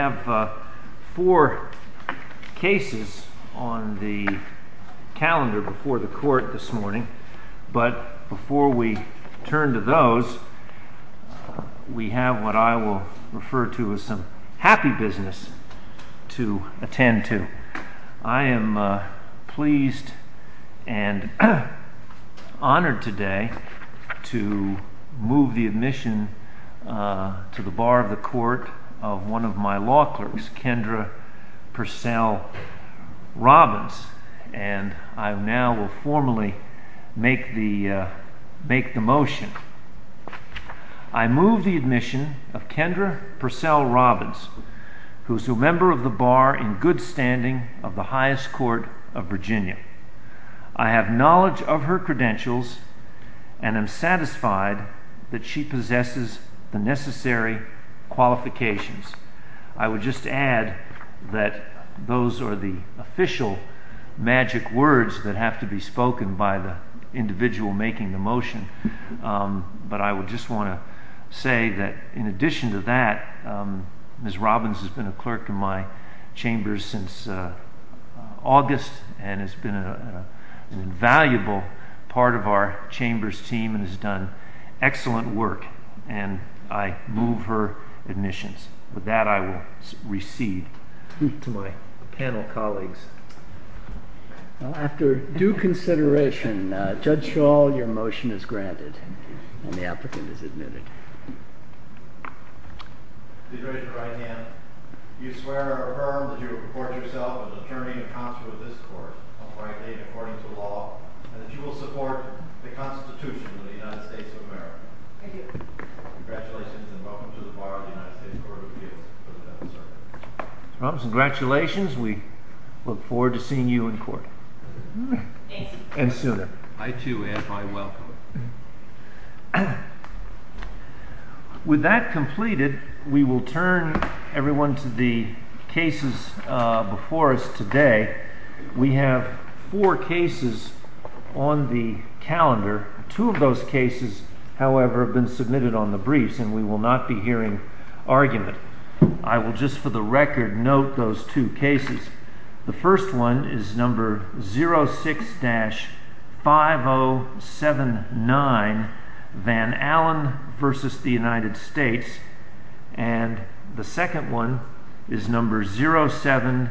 I have four cases on the calendar before the court this morning, but before we turn to those, we have what I will refer to as some happy business to attend to. I am pleased and honored today to move the admission to the Bar of the Court of one of my law clerks, Kendra Purcell Robbins, and I now will formally make the motion. I move the admission of Kendra Purcell Robbins, who is a member of the Bar in good standing of the highest court of Virginia. I have knowledge of her credentials and am satisfied that she possesses the necessary qualifications. I would just add that those are the official magic words that have to be spoken by the individual making the motion, but I would just want to say that in addition to that, Ms. Robbins has been a clerk in my chambers since August and has been an invaluable part of our chambers team and has done excellent work, and I move her admissions. With that, I will recede to my panel colleagues. After due consideration, Judge Shaw, your motion is granted and the applicant is admitted. You swear or affirm that you will purport yourself an attorney and counsel of this court, and that you will support the Constitution of the United States of America? I do. Congratulations and welcome to the Bar of the United States Court of Appeals. Ms. Robbins, congratulations. We look forward to seeing you in court. Thank you. And soon. I too, and I welcome it. With that completed, we will turn everyone to the cases before us today. We have four cases on the calendar. Two of those cases, however, have been submitted on the briefs, and we will not be hearing argument. I will just, for the record, note those two cases. The first one is number 06-5079, Van Allen v. the United States, and the second one is number 07-3055,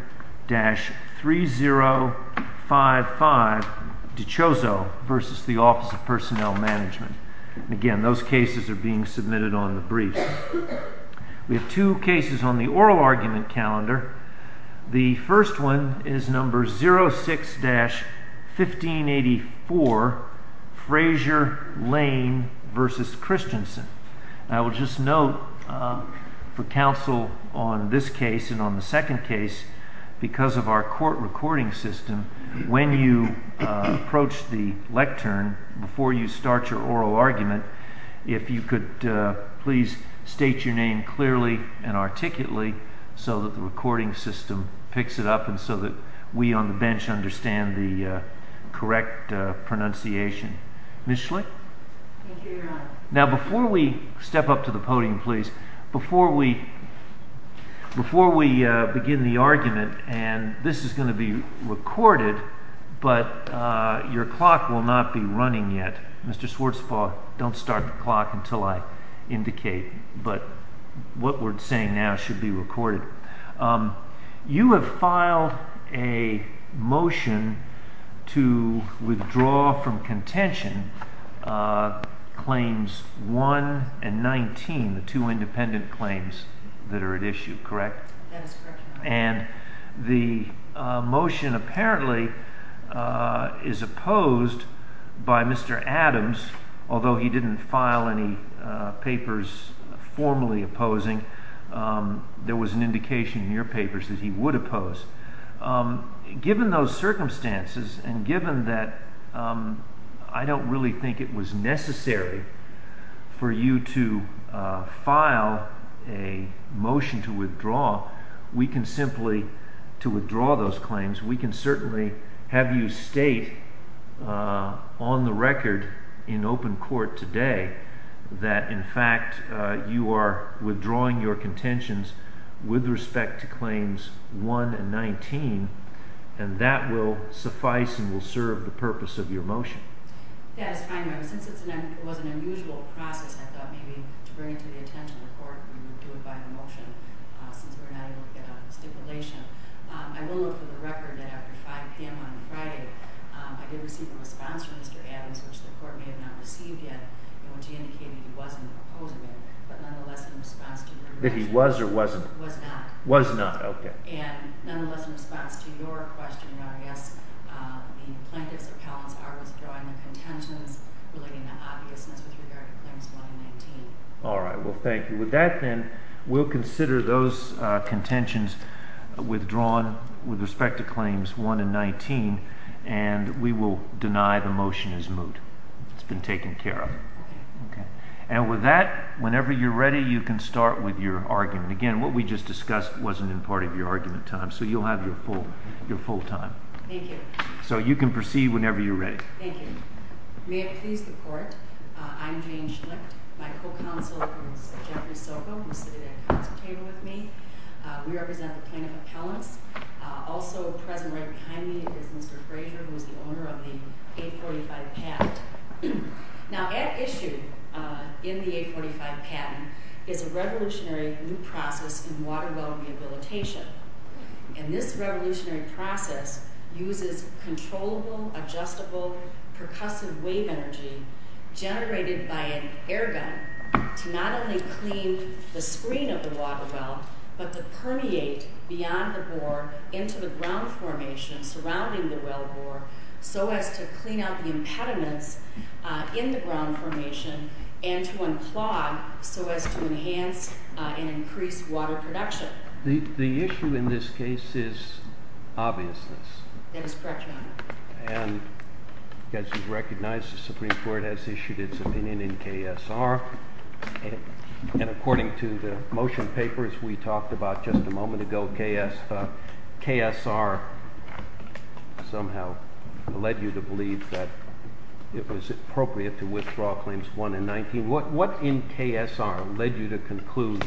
DiCioso v. the Office of Personnel Management. Again, those cases are being submitted on the briefs. We have two cases on the oral argument calendar. The first one is number 06-1584, Frazier, Lane v. Christensen. I will just note for counsel on this case and on the second case, because of our court recording system, when you approach the lectern, before you start your oral argument, if you could please state your name clearly and articulately so that the recording system picks it up and so that we on the bench understand the correct pronunciation. Now, before we step up to the podium, please, before we begin the argument, and this is Mr. Schwartzfall, don't start the clock until I indicate, but what we're saying now should be recorded. You have filed a motion to withdraw from contention claims 1 and 19, the two independent Mr. Adams, although he didn't file any papers formally opposing, there was an indication in your papers that he would oppose. Given those circumstances and given that I don't really think it was necessary for you to file a motion to withdraw, we can simply, to withdraw a record in open court today that, in fact, you are withdrawing your contentions with respect to claims 1 and 19, and that will suffice and will serve the purpose of your motion. That is fine, Your Honor. Since it was an unusual process, I thought maybe to bring it to the attention of the court, we would do it by the motion, since we're not able to get a stipulation. I will note for the record that after 5 p.m. on Friday, I did receive a response from Mr. Adams, which the court may have not received yet, in which he indicated he wasn't opposing it, but nonetheless, in response to your... That he was or wasn't? Was not. Was not, okay. And nonetheless, in response to your question, Your Honor, yes, the plaintiffs or counts are withdrawing their contentions relating to obviousness with regard to claims 1 and 19. All right, well, thank you. With that, then, we'll consider those contentions withdrawn with respect to claims 1 and 19, and we will deny the motion is moot. It's been taken care of. Okay. Okay. And with that, whenever you're ready, you can start with your argument. Again, what we just discussed wasn't in part of your argument time, so you'll have your full time. Thank you. So you can proceed whenever you're ready. Thank you. May it please the court, I'm Jane Schlicht. My co-counsel is Jeffrey Soko, who's sitting at the counsel table with me. We represent the plaintiff appellants. Also present right behind me is Mr. Frazier, who is the owner of the 845 patent. Now, at issue in the 845 patent is a revolutionary new process in water well rehabilitation, and this revolutionary process uses controllable, adjustable, percussive wave energy generated by an air gun to not only clean the screen of the water well, but to permeate beyond the bore into the ground formation surrounding the well bore so as to clean out the impediments in the ground formation and to unclog so as to enhance and increase water production. The issue in this case is obviousness. That is correct, Your Honor. And as you recognize, the Supreme Court has issued its opinion in KSR, and according to the motion papers we talked about just a moment ago, KSR somehow led you to believe that it was appropriate to withdraw claims 1 and 19. What in KSR led you to conclude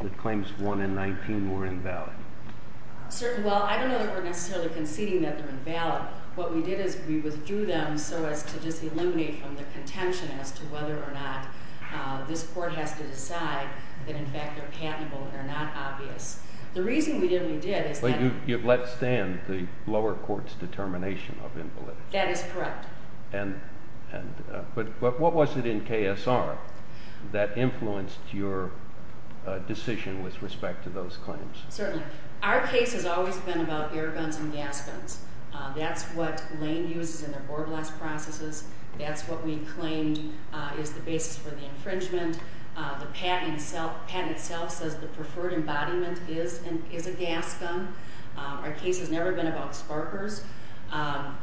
that claims 1 and 19 were invalid? Well, I don't know that we're necessarily conceding that they're invalid. What we did is we withdrew them so as to just eliminate from the contention as to whether or not this court has to decide that in fact they're patentable or they're not obvious. The reason we did what we did is that- Well, you've let stand the lower court's determination of invalidity. That is correct. But what was it in KSR that influenced your decision with respect to those claims? Certainly. Our case has always been about air guns and gas guns. That's what Lane uses in their bore blast processes. That's what we claimed is the basis for the infringement. The patent itself says the preferred embodiment is a gas gun. Our case has never been about sparkers.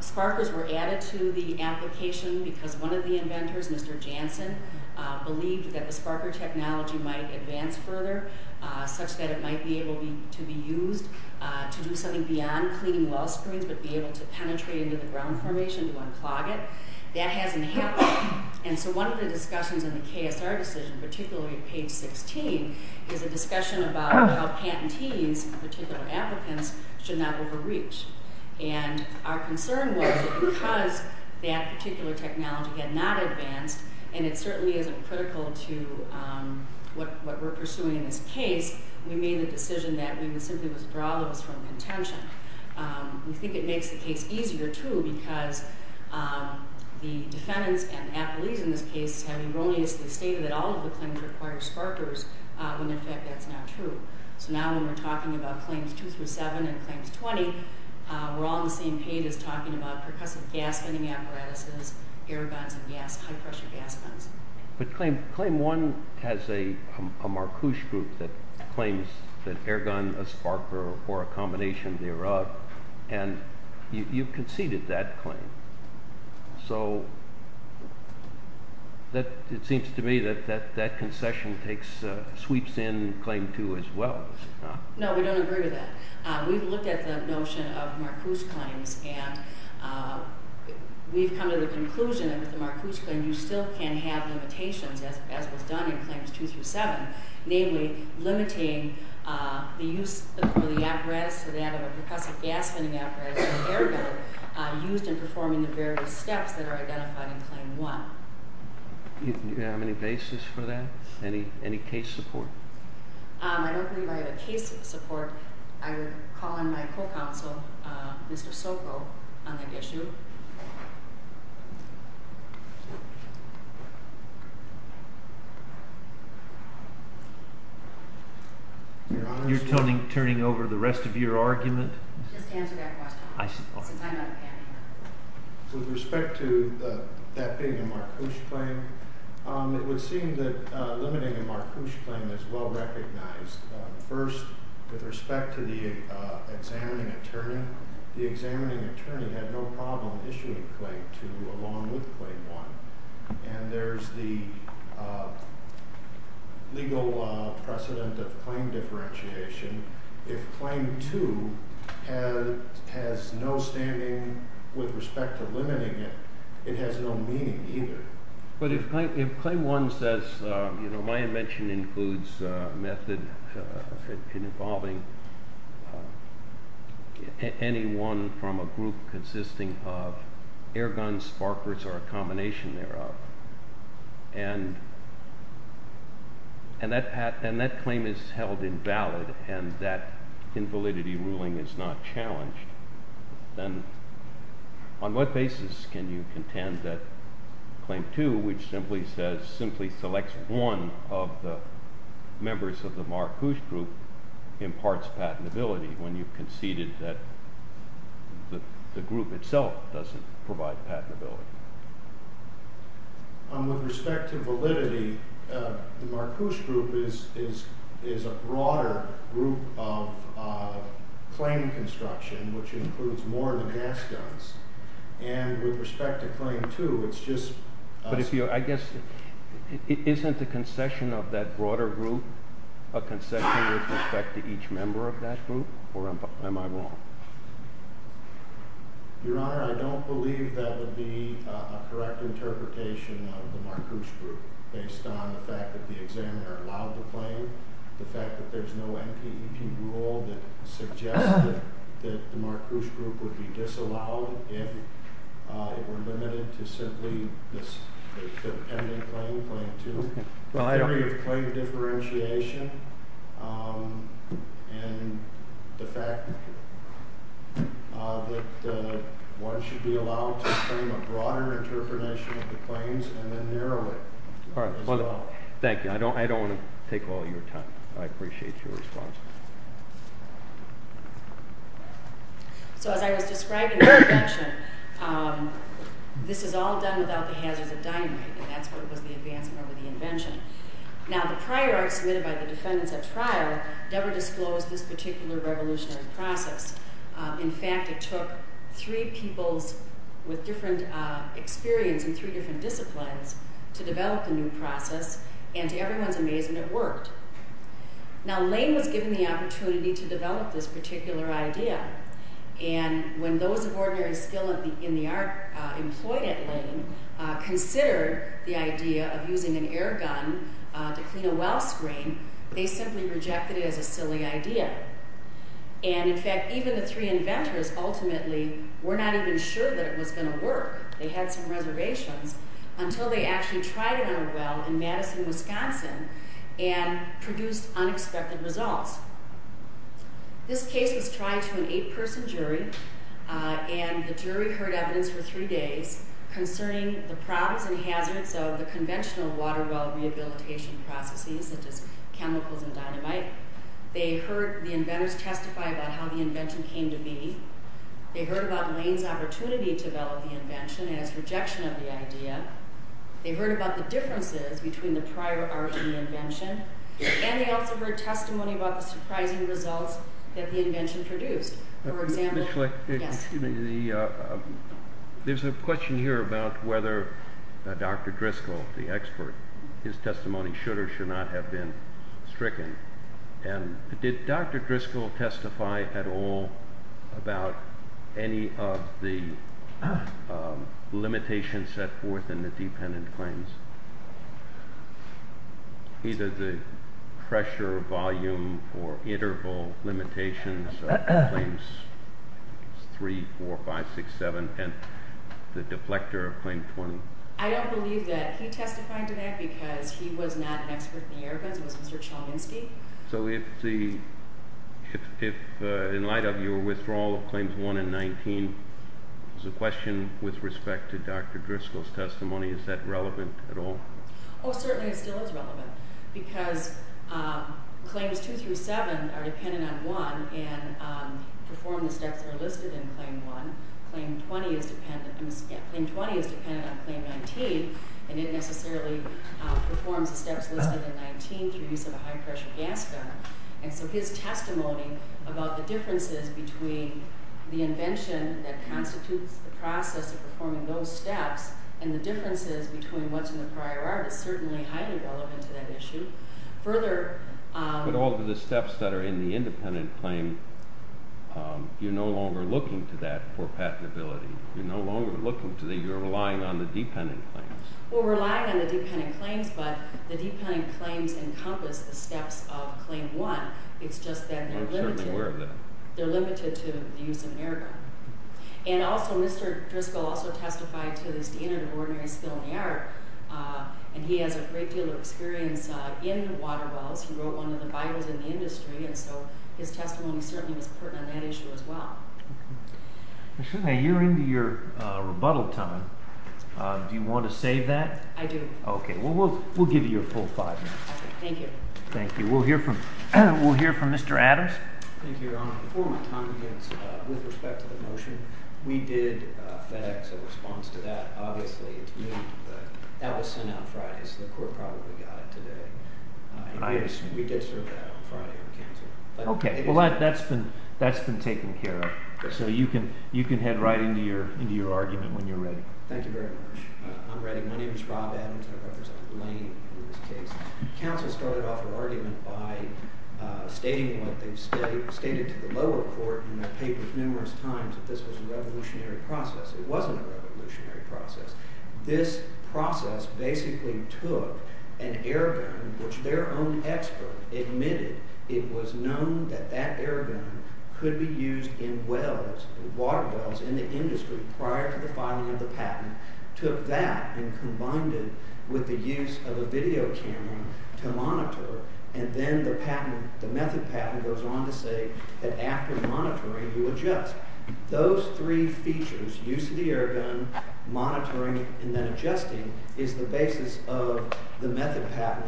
Sparkers were added to the application because one of the inventors, Mr. Jansen, believed that the sparker technology might advance further such that it might be able to be used to do something beyond cleaning well springs but be able to penetrate into the ground formation to unclog it. That hasn't happened. And so one of the discussions in the KSR decision, particularly at page 16, is a discussion about how patentees, particular applicants, should not overreach. And our concern was that because that particular technology had not advanced, and it certainly isn't critical to what we're pursuing in this case, we made the decision that we would simply withdraw those from contention. We think it makes the case easier, too, because the defendants and appellees in this case have erroneously stated that all of the claims require sparkers when in fact that's not true. So now when we're talking about claims 2 through 7 and claims 20, we're all on the same page as talking about percussive gas spinning apparatuses, air guns, and high-pressure gas guns. But claim 1 has a Marcuse group that claims that air gun, a sparker, or a combination thereof, and you've conceded that claim. So it seems to me that that concession sweeps in claim 2 as well. No, we don't agree with that. We've looked at the notion of Marcuse claims, and we've come to the conclusion that with the Marcuse claim you still can have limitations, as was done in claims 2 through 7, namely limiting the use of the apparatus to that of a percussive gas spinning apparatus or air gun used in performing the various steps that are identified in claim 1. Do you have any basis for that? Any case support? I don't believe I have a case support. I would call on my co-counsel, Mr. Soko, on that issue. You're turning over the rest of your argument? Just answer that question. With respect to that being a Marcuse claim, it would seem that limiting a Marcuse claim is well recognized. First, with respect to the examining attorney, the examining attorney had no problem issuing claim 2 along with claim 1, and there's the legal precedent of it has no standing with respect to limiting it. It has no meaning either. But if claim 1 says, you know, my invention includes a method involving anyone from a group consisting of air guns, sparkers, or a combination thereof, and that claim is held invalid and that invalidity ruling is not challenged, then on what basis can you contend that claim 2, which simply says, simply selects one of the members of the Marcuse group, imparts patentability when you conceded that the group itself doesn't provide patentability? With respect to validity, the Marcuse group is a broader group of claim construction, which includes more than gas guns. And with respect to claim 2, it's just... But if you, I guess, isn't the concession of that broader group a concession with respect to each member of that group, or am I wrong? Your Honor, I don't believe that would be a correct interpretation of the Marcuse group based on the fact that the examiner allowed the claim, the fact that there's no NPEP rule that suggests that the Marcuse group would be disallowed if it were limited to simply the pending claim, claim 2, the theory of claim differentiation, and the fact that one should be allowed to claim a broader interpretation of the claims and then narrow it as well. Thank you. I don't want to take all your time. I appreciate your response. So as I was describing the invention, this is all done without the hazards of dynamite, and that's what was the advancement of the invention. Now, the prior art submitted by the defendants at trial never disclosed this particular revolutionary process. In fact, it took three peoples with different experience in three different disciplines to develop a new process, and to everyone's amazement, it worked. Now, Lane was given the opportunity to develop this particular idea, and when those of ordinary skill in the art employed at Lane considered the idea of using an air gun to clean a well screen, they simply rejected it as a silly idea. And in fact, even the three inventors ultimately were not even sure that it was going to work. They had some reservations until they actually tried it on a well in Madison, Wisconsin, and produced unexpected results. This case was tried to an eight-person jury, and the jury heard evidence for three days concerning the problems and hazards of the conventional water well rehabilitation processes such as chemicals and dynamite. They heard the inventors testify about how the invention came to be. They heard about Lane's opportunity to develop the invention as rejection of the idea. They heard about the differences between the prior art and the invention, and they also heard testimony about the surprising results that the invention produced. For example... There's a question here about whether Dr. Driscoll, the expert, his testimony should or should not have been stricken. Did Dr. Driscoll testify at all about any of the limitations set forth in the dependent claims? Either the pressure, volume, or interval limitations of Claims 3, 4, 5, 6, 7, and the deflector of Claim 20? I don't believe that he testified to that because he was not an expert in the air guns. It was Mr. Chominski. So if the... in light of your withdrawal of Claims 1 and 19, there's a question with respect to Dr. Driscoll's testimony. Is that relevant at all? Oh, certainly it still is relevant because Claims 2 through 7 are dependent on 1, and perform the steps that are listed in Claim 1. Claim 20 is dependent on Claim 19, and it necessarily performs the steps listed in 19 through use of a high-pressure gas gun. And so his testimony about the differences between the invention that constitutes the process of performing those steps and the differences between what's in the prior art is certainly highly relevant to that issue. Further... But if you look at all of the steps that are in the independent claim, you're no longer looking to that for patentability. You're no longer looking to the... you're relying on the dependent claims. We're relying on the dependent claims, but the dependent claims encompass the steps of Claim 1. It's just that they're limited... I'm certainly aware of that. They're limited to the use of an air gun. And also, Mr. Driscoll also testified to the standard of ordinary skill in the art, and he has a great deal of experience in water wells. He wrote one of the bios in the industry, and so his testimony certainly was pertinent on that issue as well. Ms. Shulman, you're into your rebuttal time. Do you want to save that? I do. Okay. Well, we'll give you your full five minutes. Okay. Thank you. Thank you. We'll hear from Mr. Adams. Thank you, Your Honor. Before my time begins, with respect to the motion, we did FedEx a response to that. Obviously, it's moved, but that was sent out Friday, so the court probably got it today. We did serve that on Friday with counsel. Okay. Well, that's been taken care of, so you can head right into your argument when you're ready. Thank you very much. I'm ready. My name is Rob Adams. I represent Lane in this case. Counsel started off her argument by stating what they've stated to the lower court in the paper numerous times, that this was a revolutionary process. It wasn't a revolutionary process. This process basically took an air gun, which their own expert admitted it was known that that air gun could be used in wells, in water wells, in the industry, prior to the filing of the patent. Took that and combined it with the use of a video camera to monitor, and then the patent, the method patent goes on to say that after monitoring, you adjust. Those three features, use of the air gun, monitoring, and then adjusting, is the basis of the method patent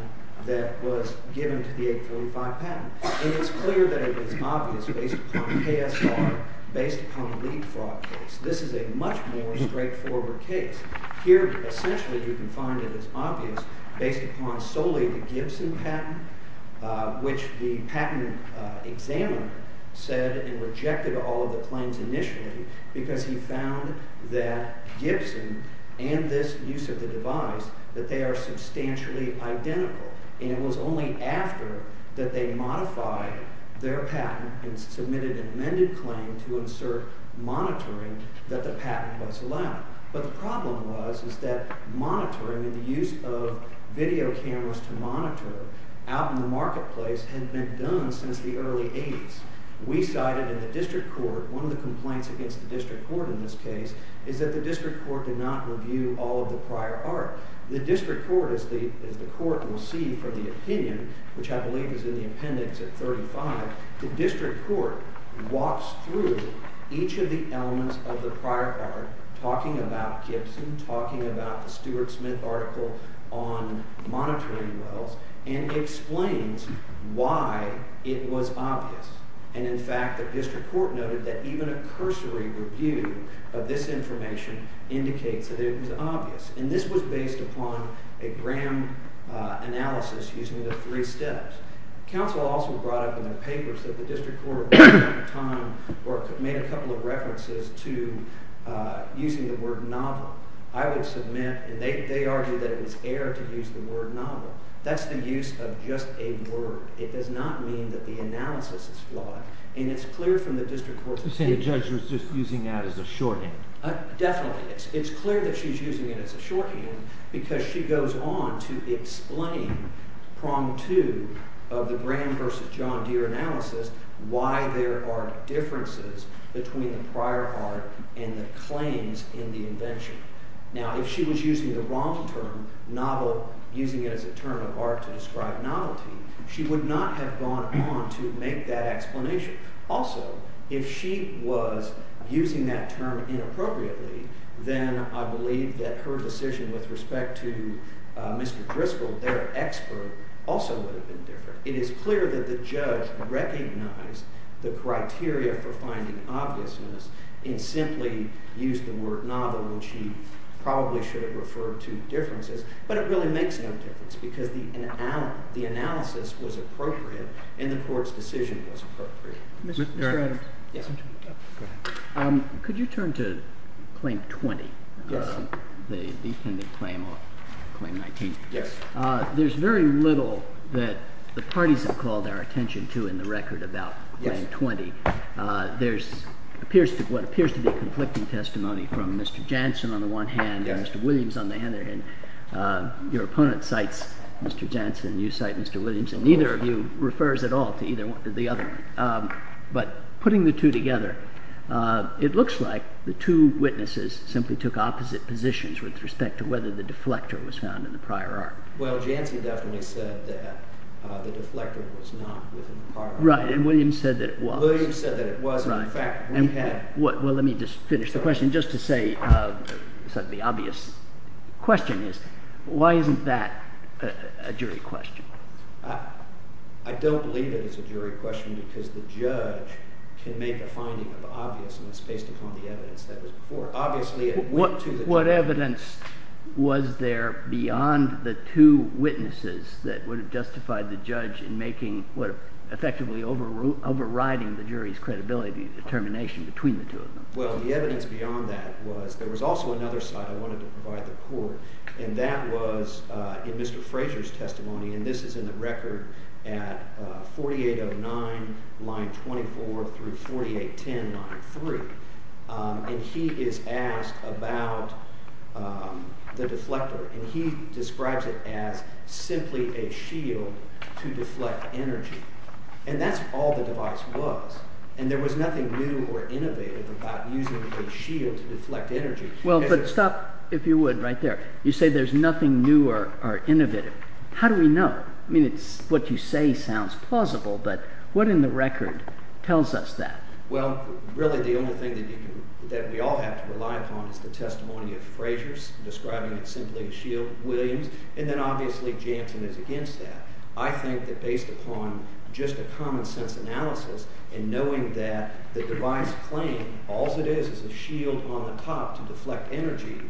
that was given to the 835 patent. And it's clear that it is obvious based upon KSR, based upon the lead fraud case. This is a much more straightforward case. Here, essentially, you can find it is obvious based upon solely the Gibson patent, which the patent examiner said and rejected all of the claims initially, because he found that Gibson and this use of the device, that they are substantially identical. And it was only after that they modified their patent and submitted an amended claim to insert monitoring that the patent was allowed. But the problem was, is that monitoring and the use of video cameras to monitor out in the marketplace had been done since the early 80s. We cited in the district court, one of the complaints against the district court in this case, is that the district court did not review all of the prior art. The district court, as the court will see from the opinion, which I believe is in the appendix at 35, the district court walks through each of the elements of the prior art, talking about Gibson, talking about the Stuart Smith article on monitoring wells, and explains why it was obvious. And, in fact, the district court noted that even a cursory review of this information indicates that it was obvious. And this was based upon a Graham analysis using the three steps. Counsel also brought up in the papers that the district court made a couple of references to using the word novel. I would submit, and they argued that it was air to use the word novel. That's the use of just a word. It does not mean that the analysis is flawed. And it's clear from the district court's opinion... You're saying the judge was just using that as a shorthand. Definitely. It's clear that she's using it as a shorthand because she goes on to explain prong two of the Graham versus John Deere analysis, why there are differences between the prior art and the claims in the invention. Now, if she was using the wrong term, novel, using it as a term of art to describe novelty, she would not have gone on to make that explanation. Also, if she was using that term inappropriately, then I believe that her decision with respect to Mr. Driscoll, their expert, also would have been different. It is clear that the judge recognized the criteria for finding obviousness and simply used the word novel when she probably should have referred to differences. But it really makes no difference because the analysis was appropriate and the court's decision was appropriate. Mr. Adams. Yes. Could you turn to Claim 20? Yes. The defendant claim on Claim 19. Yes. There's very little that the parties have called our attention to in the record about Claim 20. There appears to be conflicting testimony from Mr. Jansen on the one hand and Mr. Williams on the other. Your opponent cites Mr. Jansen and you cite Mr. Williams and neither of you refers at all to the other one. But putting the two together, it looks like the two witnesses simply took opposite positions with respect to whether the deflector was found in the prior art. Well, Jansen definitely said that the deflector was not within the prior art. Right, and Williams said that it was. Well, let me just finish the question. Just to say the obvious question is why isn't that a jury question? I don't believe it is a jury question because the judge can make a finding of obviousness based upon the evidence that was before. Obviously it went to the judge. What evidence was there beyond the two witnesses that would have justified the judge in effectively overriding the jury's credibility determination between the two of them? Well, the evidence beyond that was there was also another side I wanted to provide the court, and that was in Mr. Fraser's testimony, and this is in the record at 4809 line 24 through 4810 line 3. And he is asked about the deflector, and he describes it as simply a shield to deflect energy. And that's all the device was, and there was nothing new or innovative about using a shield to deflect energy. Well, but stop, if you would, right there. You say there's nothing new or innovative. How do we know? I mean, what you say sounds plausible, but what in the record tells us that? Well, really the only thing that we all have to rely upon is the testimony of Fraser's, describing it simply as Shield Williams, and then obviously Jansen is against that. I think that based upon just a common sense analysis and knowing that the device claimed alls it is is a shield on the top to deflect energy,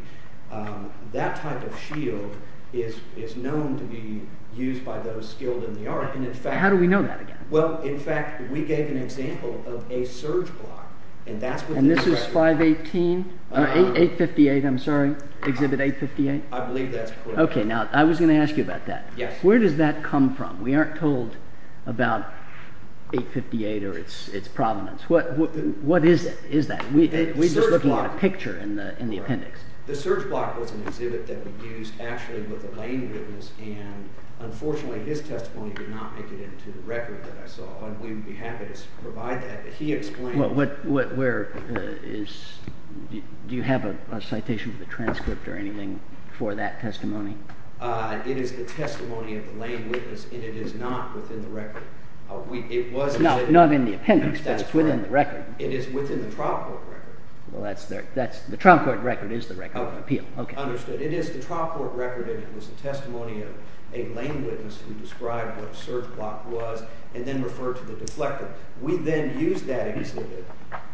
that type of shield is known to be used by those skilled in the art. How do we know that again? Well, in fact, we gave an example of a surge block, and that's what's in the record. And this is 518, 858, I'm sorry, exhibit 858? I believe that's correct. Okay, now I was going to ask you about that. Where does that come from? We aren't told about 858 or its provenance. What is that? We're just looking at a picture in the appendix. The surge block was an exhibit that we used actually with a plane witness, and unfortunately his testimony did not make it into the record that I saw, and we would be happy to provide that, but he explained it. Do you have a citation for the transcript or anything for that testimony? It is the testimony of the lane witness, and it is not within the record. Not in the appendix, but within the record. It is within the trial court record. The trial court record is the record of appeal. Understood. It is the trial court record, and it was the testimony of a lane witness who described what a surge block was and then referred to the deflector. We then used that exhibit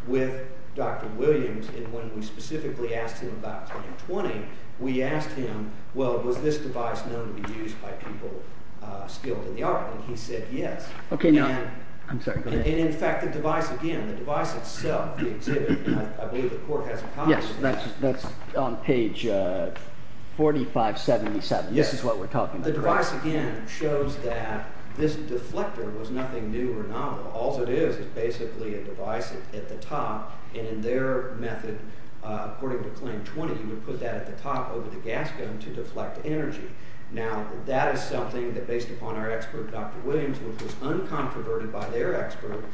with Dr. Williams, and when we specifically asked him about 1020, we asked him, well, was this device known to be used by people skilled in the art? And he said yes. And in fact, the device again, the device itself, the exhibit, I believe the court has a copy of that. That's on page 4577. Yes. This is what we're talking about. The device again shows that this deflector was nothing new or novel. All it is is basically a device at the top, and in their method, according to claim 20, you would put that at the top over the gas gun to deflect energy. Now, that is something that based upon our expert, Dr. Williams, which was uncontroverted by their expert,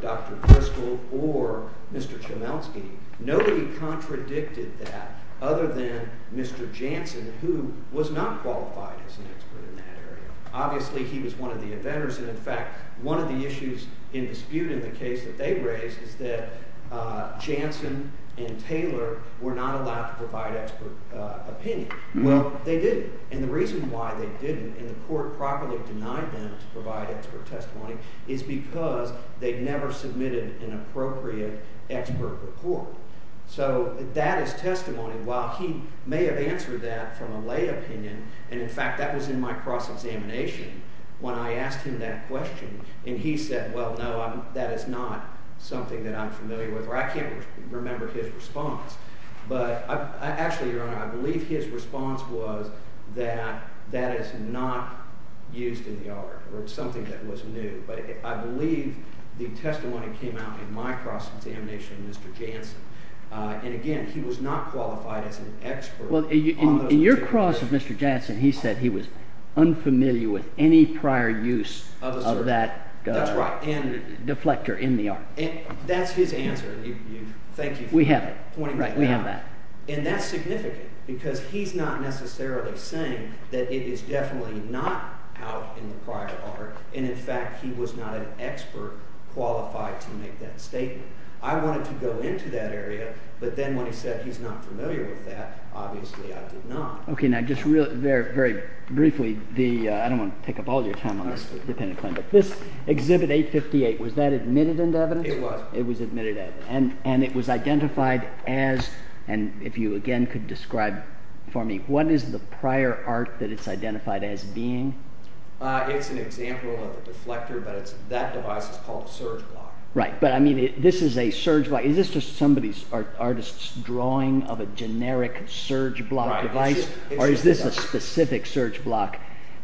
Dr. Bristol or Mr. Chemelsky, nobody contradicted that other than Mr. Jansen, who was not qualified as an expert in that area. Obviously, he was one of the inventors, and in fact, one of the issues in dispute in the case that they raised is that Jansen and Taylor were not allowed to provide expert opinion. Well, they didn't, and the reason why they didn't and the court properly denied them to provide expert testimony is because they never submitted an appropriate expert report. So that is testimony. While he may have answered that from a lay opinion, and in fact, that was in my cross-examination when I asked him that question, and he said, well, no, that is not something that I'm familiar with, or I can't remember his response. But actually, Your Honor, I believe his response was that that is not used in the art, or it's something that was new. But I believe the testimony came out in my cross-examination of Mr. Jansen. And again, he was not qualified as an expert on those materials. In your cross of Mr. Jansen, he said he was unfamiliar with any prior use of that deflector in the art. That's his answer. Thank you for pointing that out. We have it. We have that. And that's significant, because he's not necessarily saying that it is definitely not out in the prior art, and in fact, he was not an expert qualified to make that statement. I wanted to go into that area, but then when he said he's not familiar with that, obviously I did not. Okay, now just very briefly, I don't want to take up all your time on this. This Exhibit 858, was that admitted into evidence? It was. It was admitted as, and it was identified as, and if you again could describe for me, what is the prior art that it's identified as being? It's an example of a deflector, but that device is called a surge block. Right, but I mean, this is a surge block. Is this just somebody's artist's drawing of a generic surge block device, or is this a specific surge block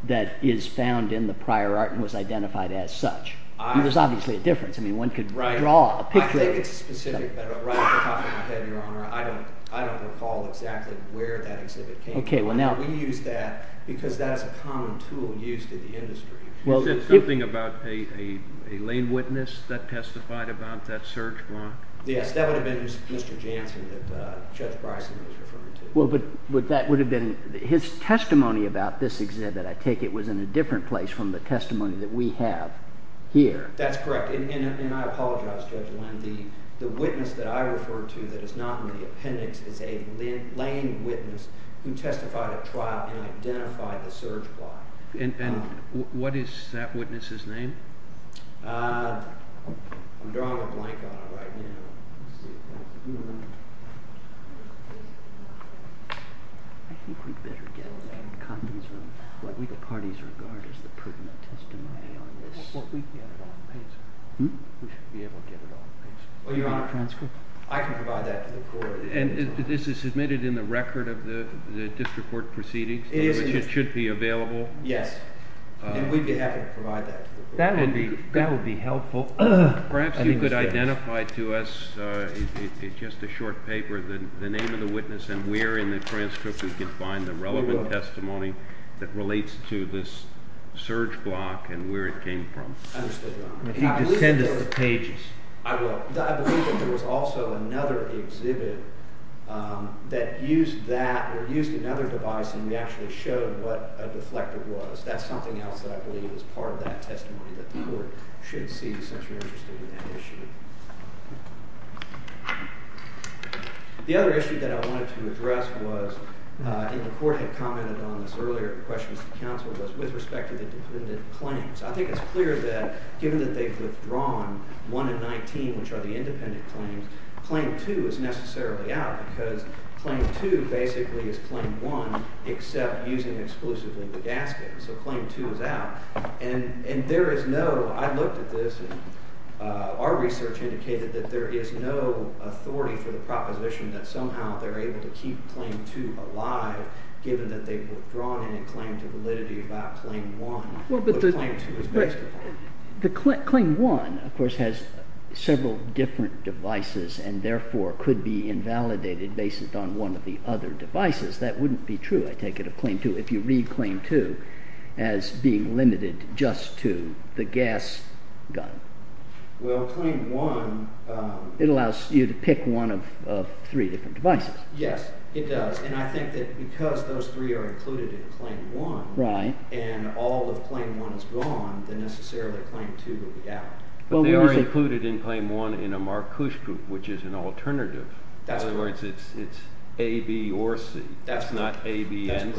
that is found in the prior art and was identified as such? There's obviously a difference. I mean, one could draw a picture. I think it's specific, but right off the top of my head, Your Honor, I don't recall exactly where that exhibit came from. We use that because that is a common tool used in the industry. You said something about a lane witness that testified about that surge block? Yes, that would have been Mr. Jansen that Judge Bryson was referring to. Well, but that would have been, his testimony about this exhibit, I take it, was in a different place from the testimony that we have here. That's correct, and I apologize, Judge Lynn, the witness that I referred to that is not in the appendix is a lane witness who testified at trial and identified the surge block. And what is that witness's name? I'm drawing a blank on it right now. Let's see. I think we'd better get a condom. What we, the parties, regard as the prudent testimony on this. Well, we'd get it on paper. Hmm? We should be able to get it on paper. Well, Your Honor, I can provide that to the court. And this is submitted in the record of the district court proceedings? It is. It should be available? Yes. And we'd be happy to provide that to the court. That would be helpful. Perhaps you could identify to us in just a short paper the name of the witness and where in the transcript we can find the relevant testimony that relates to this surge block and where it came from. Understood, Your Honor. If you could send us the pages. I will. I believe that there was also another exhibit that used that or used another device and we actually showed what a deflector was. That's something else that I believe is part of that testimony that the court should see since you're interested in that issue. The other issue that I wanted to address was, and the court had commented on this earlier in questions to counsel, was with respect to the dependent claims. I think it's clear that given that they've withdrawn 1 and 19, which are the independent claims, claim 2 is necessarily out because claim 2 basically is claim 1 except using exclusively the gasket. So claim 2 is out. There is no, I looked at this and our research indicated that there is no authority for the proposition that somehow they're able to keep claim 2 alive given that they've withdrawn any claim to validity about claim 1. But claim 2 is basically out. Claim 1, of course, has several different devices and therefore could be invalidated based on one of the other devices. That wouldn't be true, I take it, of claim 2. If you read claim 2 as being limited just to the gas gun. Well, claim 1... It allows you to pick one of three different devices. Yes, it does. And I think that because those three are included in claim 1 and all of claim 1 is gone, then necessarily claim 2 will be out. But they are included in claim 1 in a Marc Cush group, which is an alternative. That's correct. In other words, it's A, B, or C. That's not A, B, or C.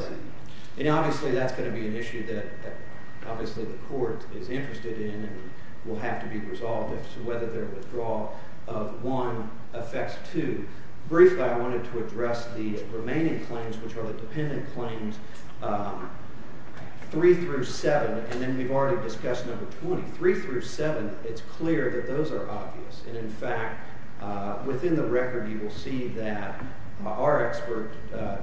And obviously that's going to be an issue that the court is interested in and will have to be resolved as to whether their withdrawal of 1 affects 2. Briefly, I wanted to address the remaining claims, which are the dependent claims, 3 through 7. And then we've already discussed number 20. 3 through 7, it's clear that those are obvious. And, in fact, within the record you will see that our expert,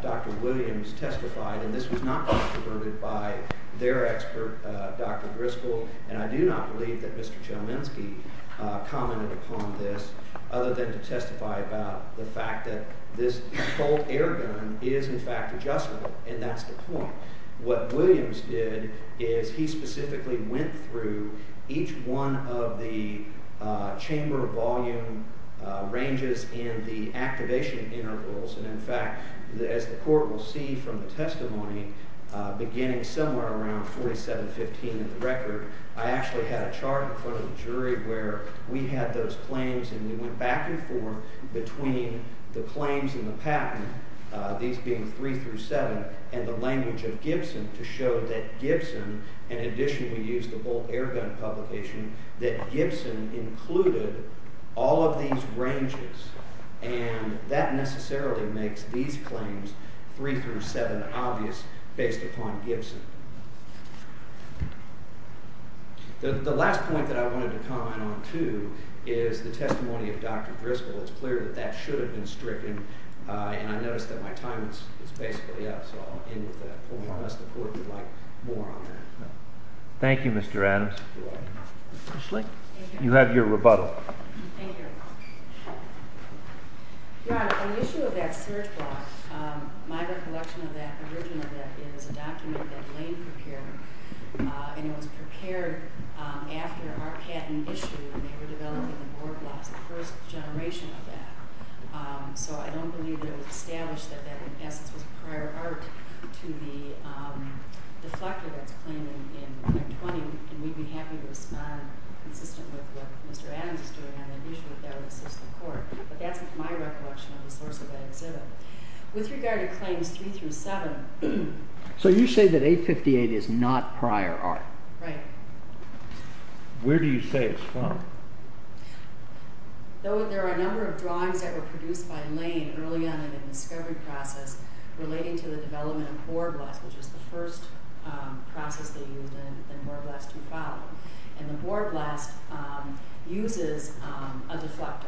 Dr. Williams, testified, and this was not controverted by their expert, Dr. Griskell, and I do not believe that Mr. Chominski commented upon this other than to testify about the fact that this Colt air gun is, in fact, adjustable. And that's the point. What Williams did is he specifically went through each one of the chamber volume ranges in the activation intervals. And, in fact, as the court will see from the testimony, beginning somewhere around 4715 of the record, I actually had a chart in front of the jury where we had those claims and we went back and forth between the claims and the patent, to show that Gibson, in addition we used the Colt air gun publication, that Gibson included all of these ranges. And that necessarily makes these claims, 3 through 7, obvious based upon Gibson. The last point that I wanted to comment on, too, is the testimony of Dr. Griskell. It's clear that that should have been stricken, and I noticed that my time is basically up, so I'll end with that. If you want us to pull it, we'd like more on that. Thank you, Mr. Adams. You have your rebuttal. Thank you, Your Honor. Your Honor, on the issue of that search block, my recollection of that original is a document that Lane prepared, and it was prepared after our patent issue when they were developing the board blocks, the first generation of that. So I don't believe that it was established that that, in essence, was prior art to the deflector that's claiming in Act 20, and we'd be happy to respond, consistent with what Mr. Adams is doing on that issue, if that would assist the Court. But that's my recollection of the source of that exhibit. With regard to claims 3 through 7... So you say that 858 is not prior art. Right. There are a number of drawings that were produced by Lane early on in the discovery process relating to the development of board blocks, which is the first process they used, and board blocks to follow. And the board blocks uses a deflector,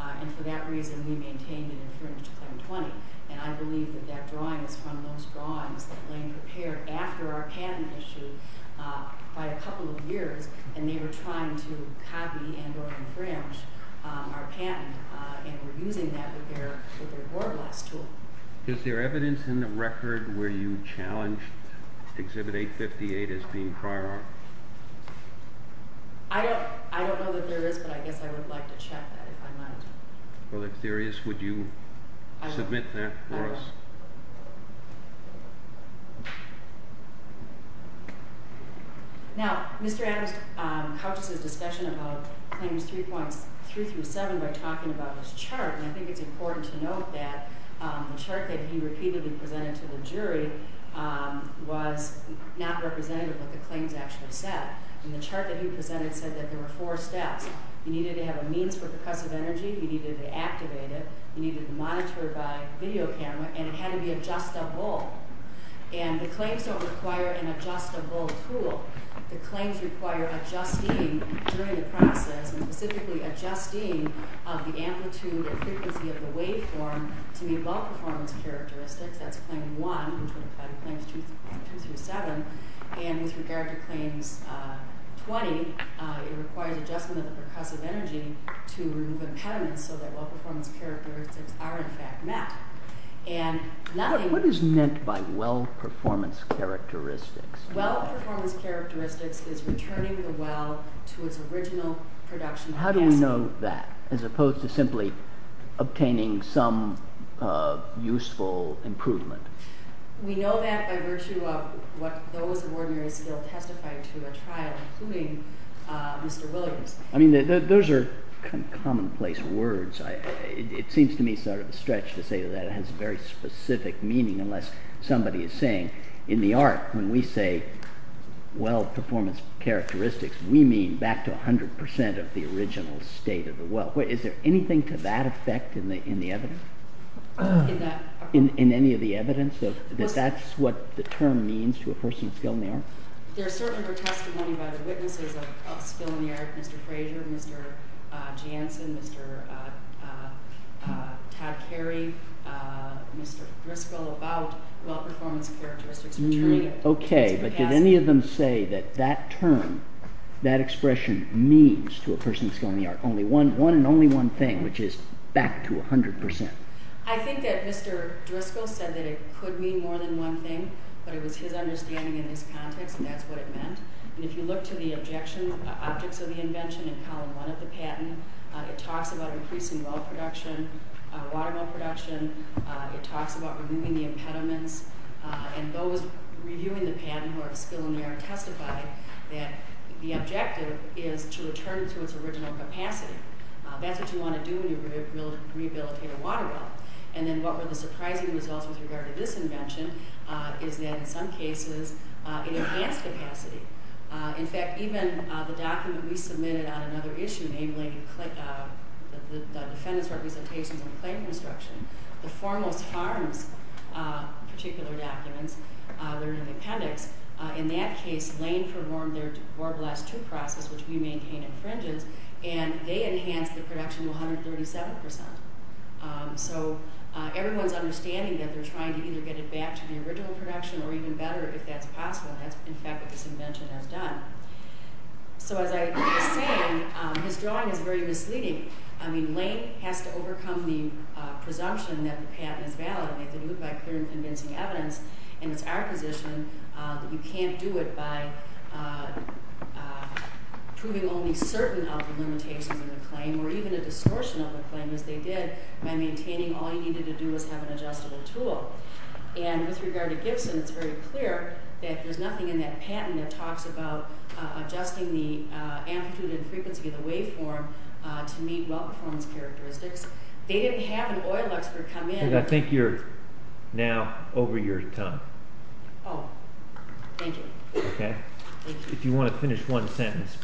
and for that reason we maintained and infringed Claim 20. And I believe that that drawing is from those drawings that Lane prepared after our patent issue by a couple of years, and they were trying to copy and or infringe our patent, and we're using that with their board blocks tool. Is there evidence in the record where you challenged exhibit 858 as being prior art? I don't know that there is, but I guess I would like to check that, if I might. Well, if there is, would you submit that for us? Now, Mr. Adams comes to the discussion about claims 3.3 through 7 by talking about his chart, and I think it's important to note that the chart that he repeatedly presented to the jury was not representative of what the claims actually said. And the chart that he presented said that there were four steps. He needed to have a means for percussive energy, he needed to activate it, he needed to monitor it by video camera, and it had to be adjustable. And the claims don't require an adjustable tool. The claims require adjusting during the process, and specifically adjusting of the amplitude and frequency of the waveform to meet well-performance characteristics. That's claim 1, which would apply to claims 2 through 7. And with regard to claims 20, it requires adjustment of the percussive energy to remove impediments so that well-performance characteristics are in fact met. What is meant by well-performance characteristics? Well-performance characteristics is returning the well to its original production capacity. How do we know that, as opposed to simply obtaining some useful improvement? We know that by virtue of what those of ordinary skill testified to at trial, including Mr. Williams. I mean, those are kind of commonplace words. It seems to me sort of a stretch to say that. It has very specific meaning, unless somebody is saying, in the art, when we say well-performance characteristics, we mean back to 100% of the original state of the well. Is there anything to that effect in the evidence? In any of the evidence? That that's what the term means to a person with skill in the art? There certainly were testimonies by the witnesses of skill in the art, Mr. Frazier, Mr. Jansen, Mr. Tad Carey, Mr. Driscoll, about well-performance characteristics returning it to capacity. Okay, but did any of them say that that term, that expression, means to a person with skill in the art? Only one, one and only one thing, which is back to 100%. I think that Mr. Driscoll said that it could mean more than one thing, but it was his understanding in this context, and that's what it meant. And if you look to the objection objects of the invention in column one of the patent, it talks about increasing well production, water well production. It talks about removing the impediments. And those reviewing the patent who are of skill in the art testified that the objective is to return it to its original capacity. That's what you want to do when you rehabilitate a water well. And then what were the surprising results with regard to this invention is that in some cases it enhanced capacity. In fact, even the document we submitted on another issue, enabling the defendant's representations and claim construction, the foremost harms particular documents, they're in an appendix. In that case, Lane performed their war blast two process, which we maintain infringes, and they enhanced the production to 137%. So everyone's understanding that they're trying to either get it back to the original production or even better if that's possible, and that's, in fact, what this invention has done. So as I was saying, his drawing is very misleading. I mean, Lane has to overcome the presumption that the patent is valid. They did it by clear and convincing evidence, and it's our position that you can't do it by proving only certain of the limitations of the claim or even a distortion of the claim as they did by maintaining all you needed to do was have an adjustable tool. And with regard to Gibson, it's very clear that there's nothing in that patent that talks about adjusting the amplitude and frequency of the waveform to meet well-performance characteristics. They didn't have an oil expert come in. I think you're now over your time. Oh, thank you. Okay. If you want to finish one sentence.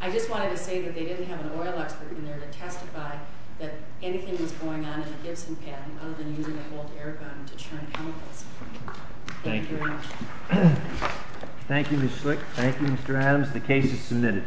I just wanted to say that they didn't have an oil expert in there to testify that anything was going on in the Gibson patent other than using a bolt air gun to churn chemicals. Thank you. Thank you, Ms. Schlicht. Thank you, Mr. Adams. The case is submitted.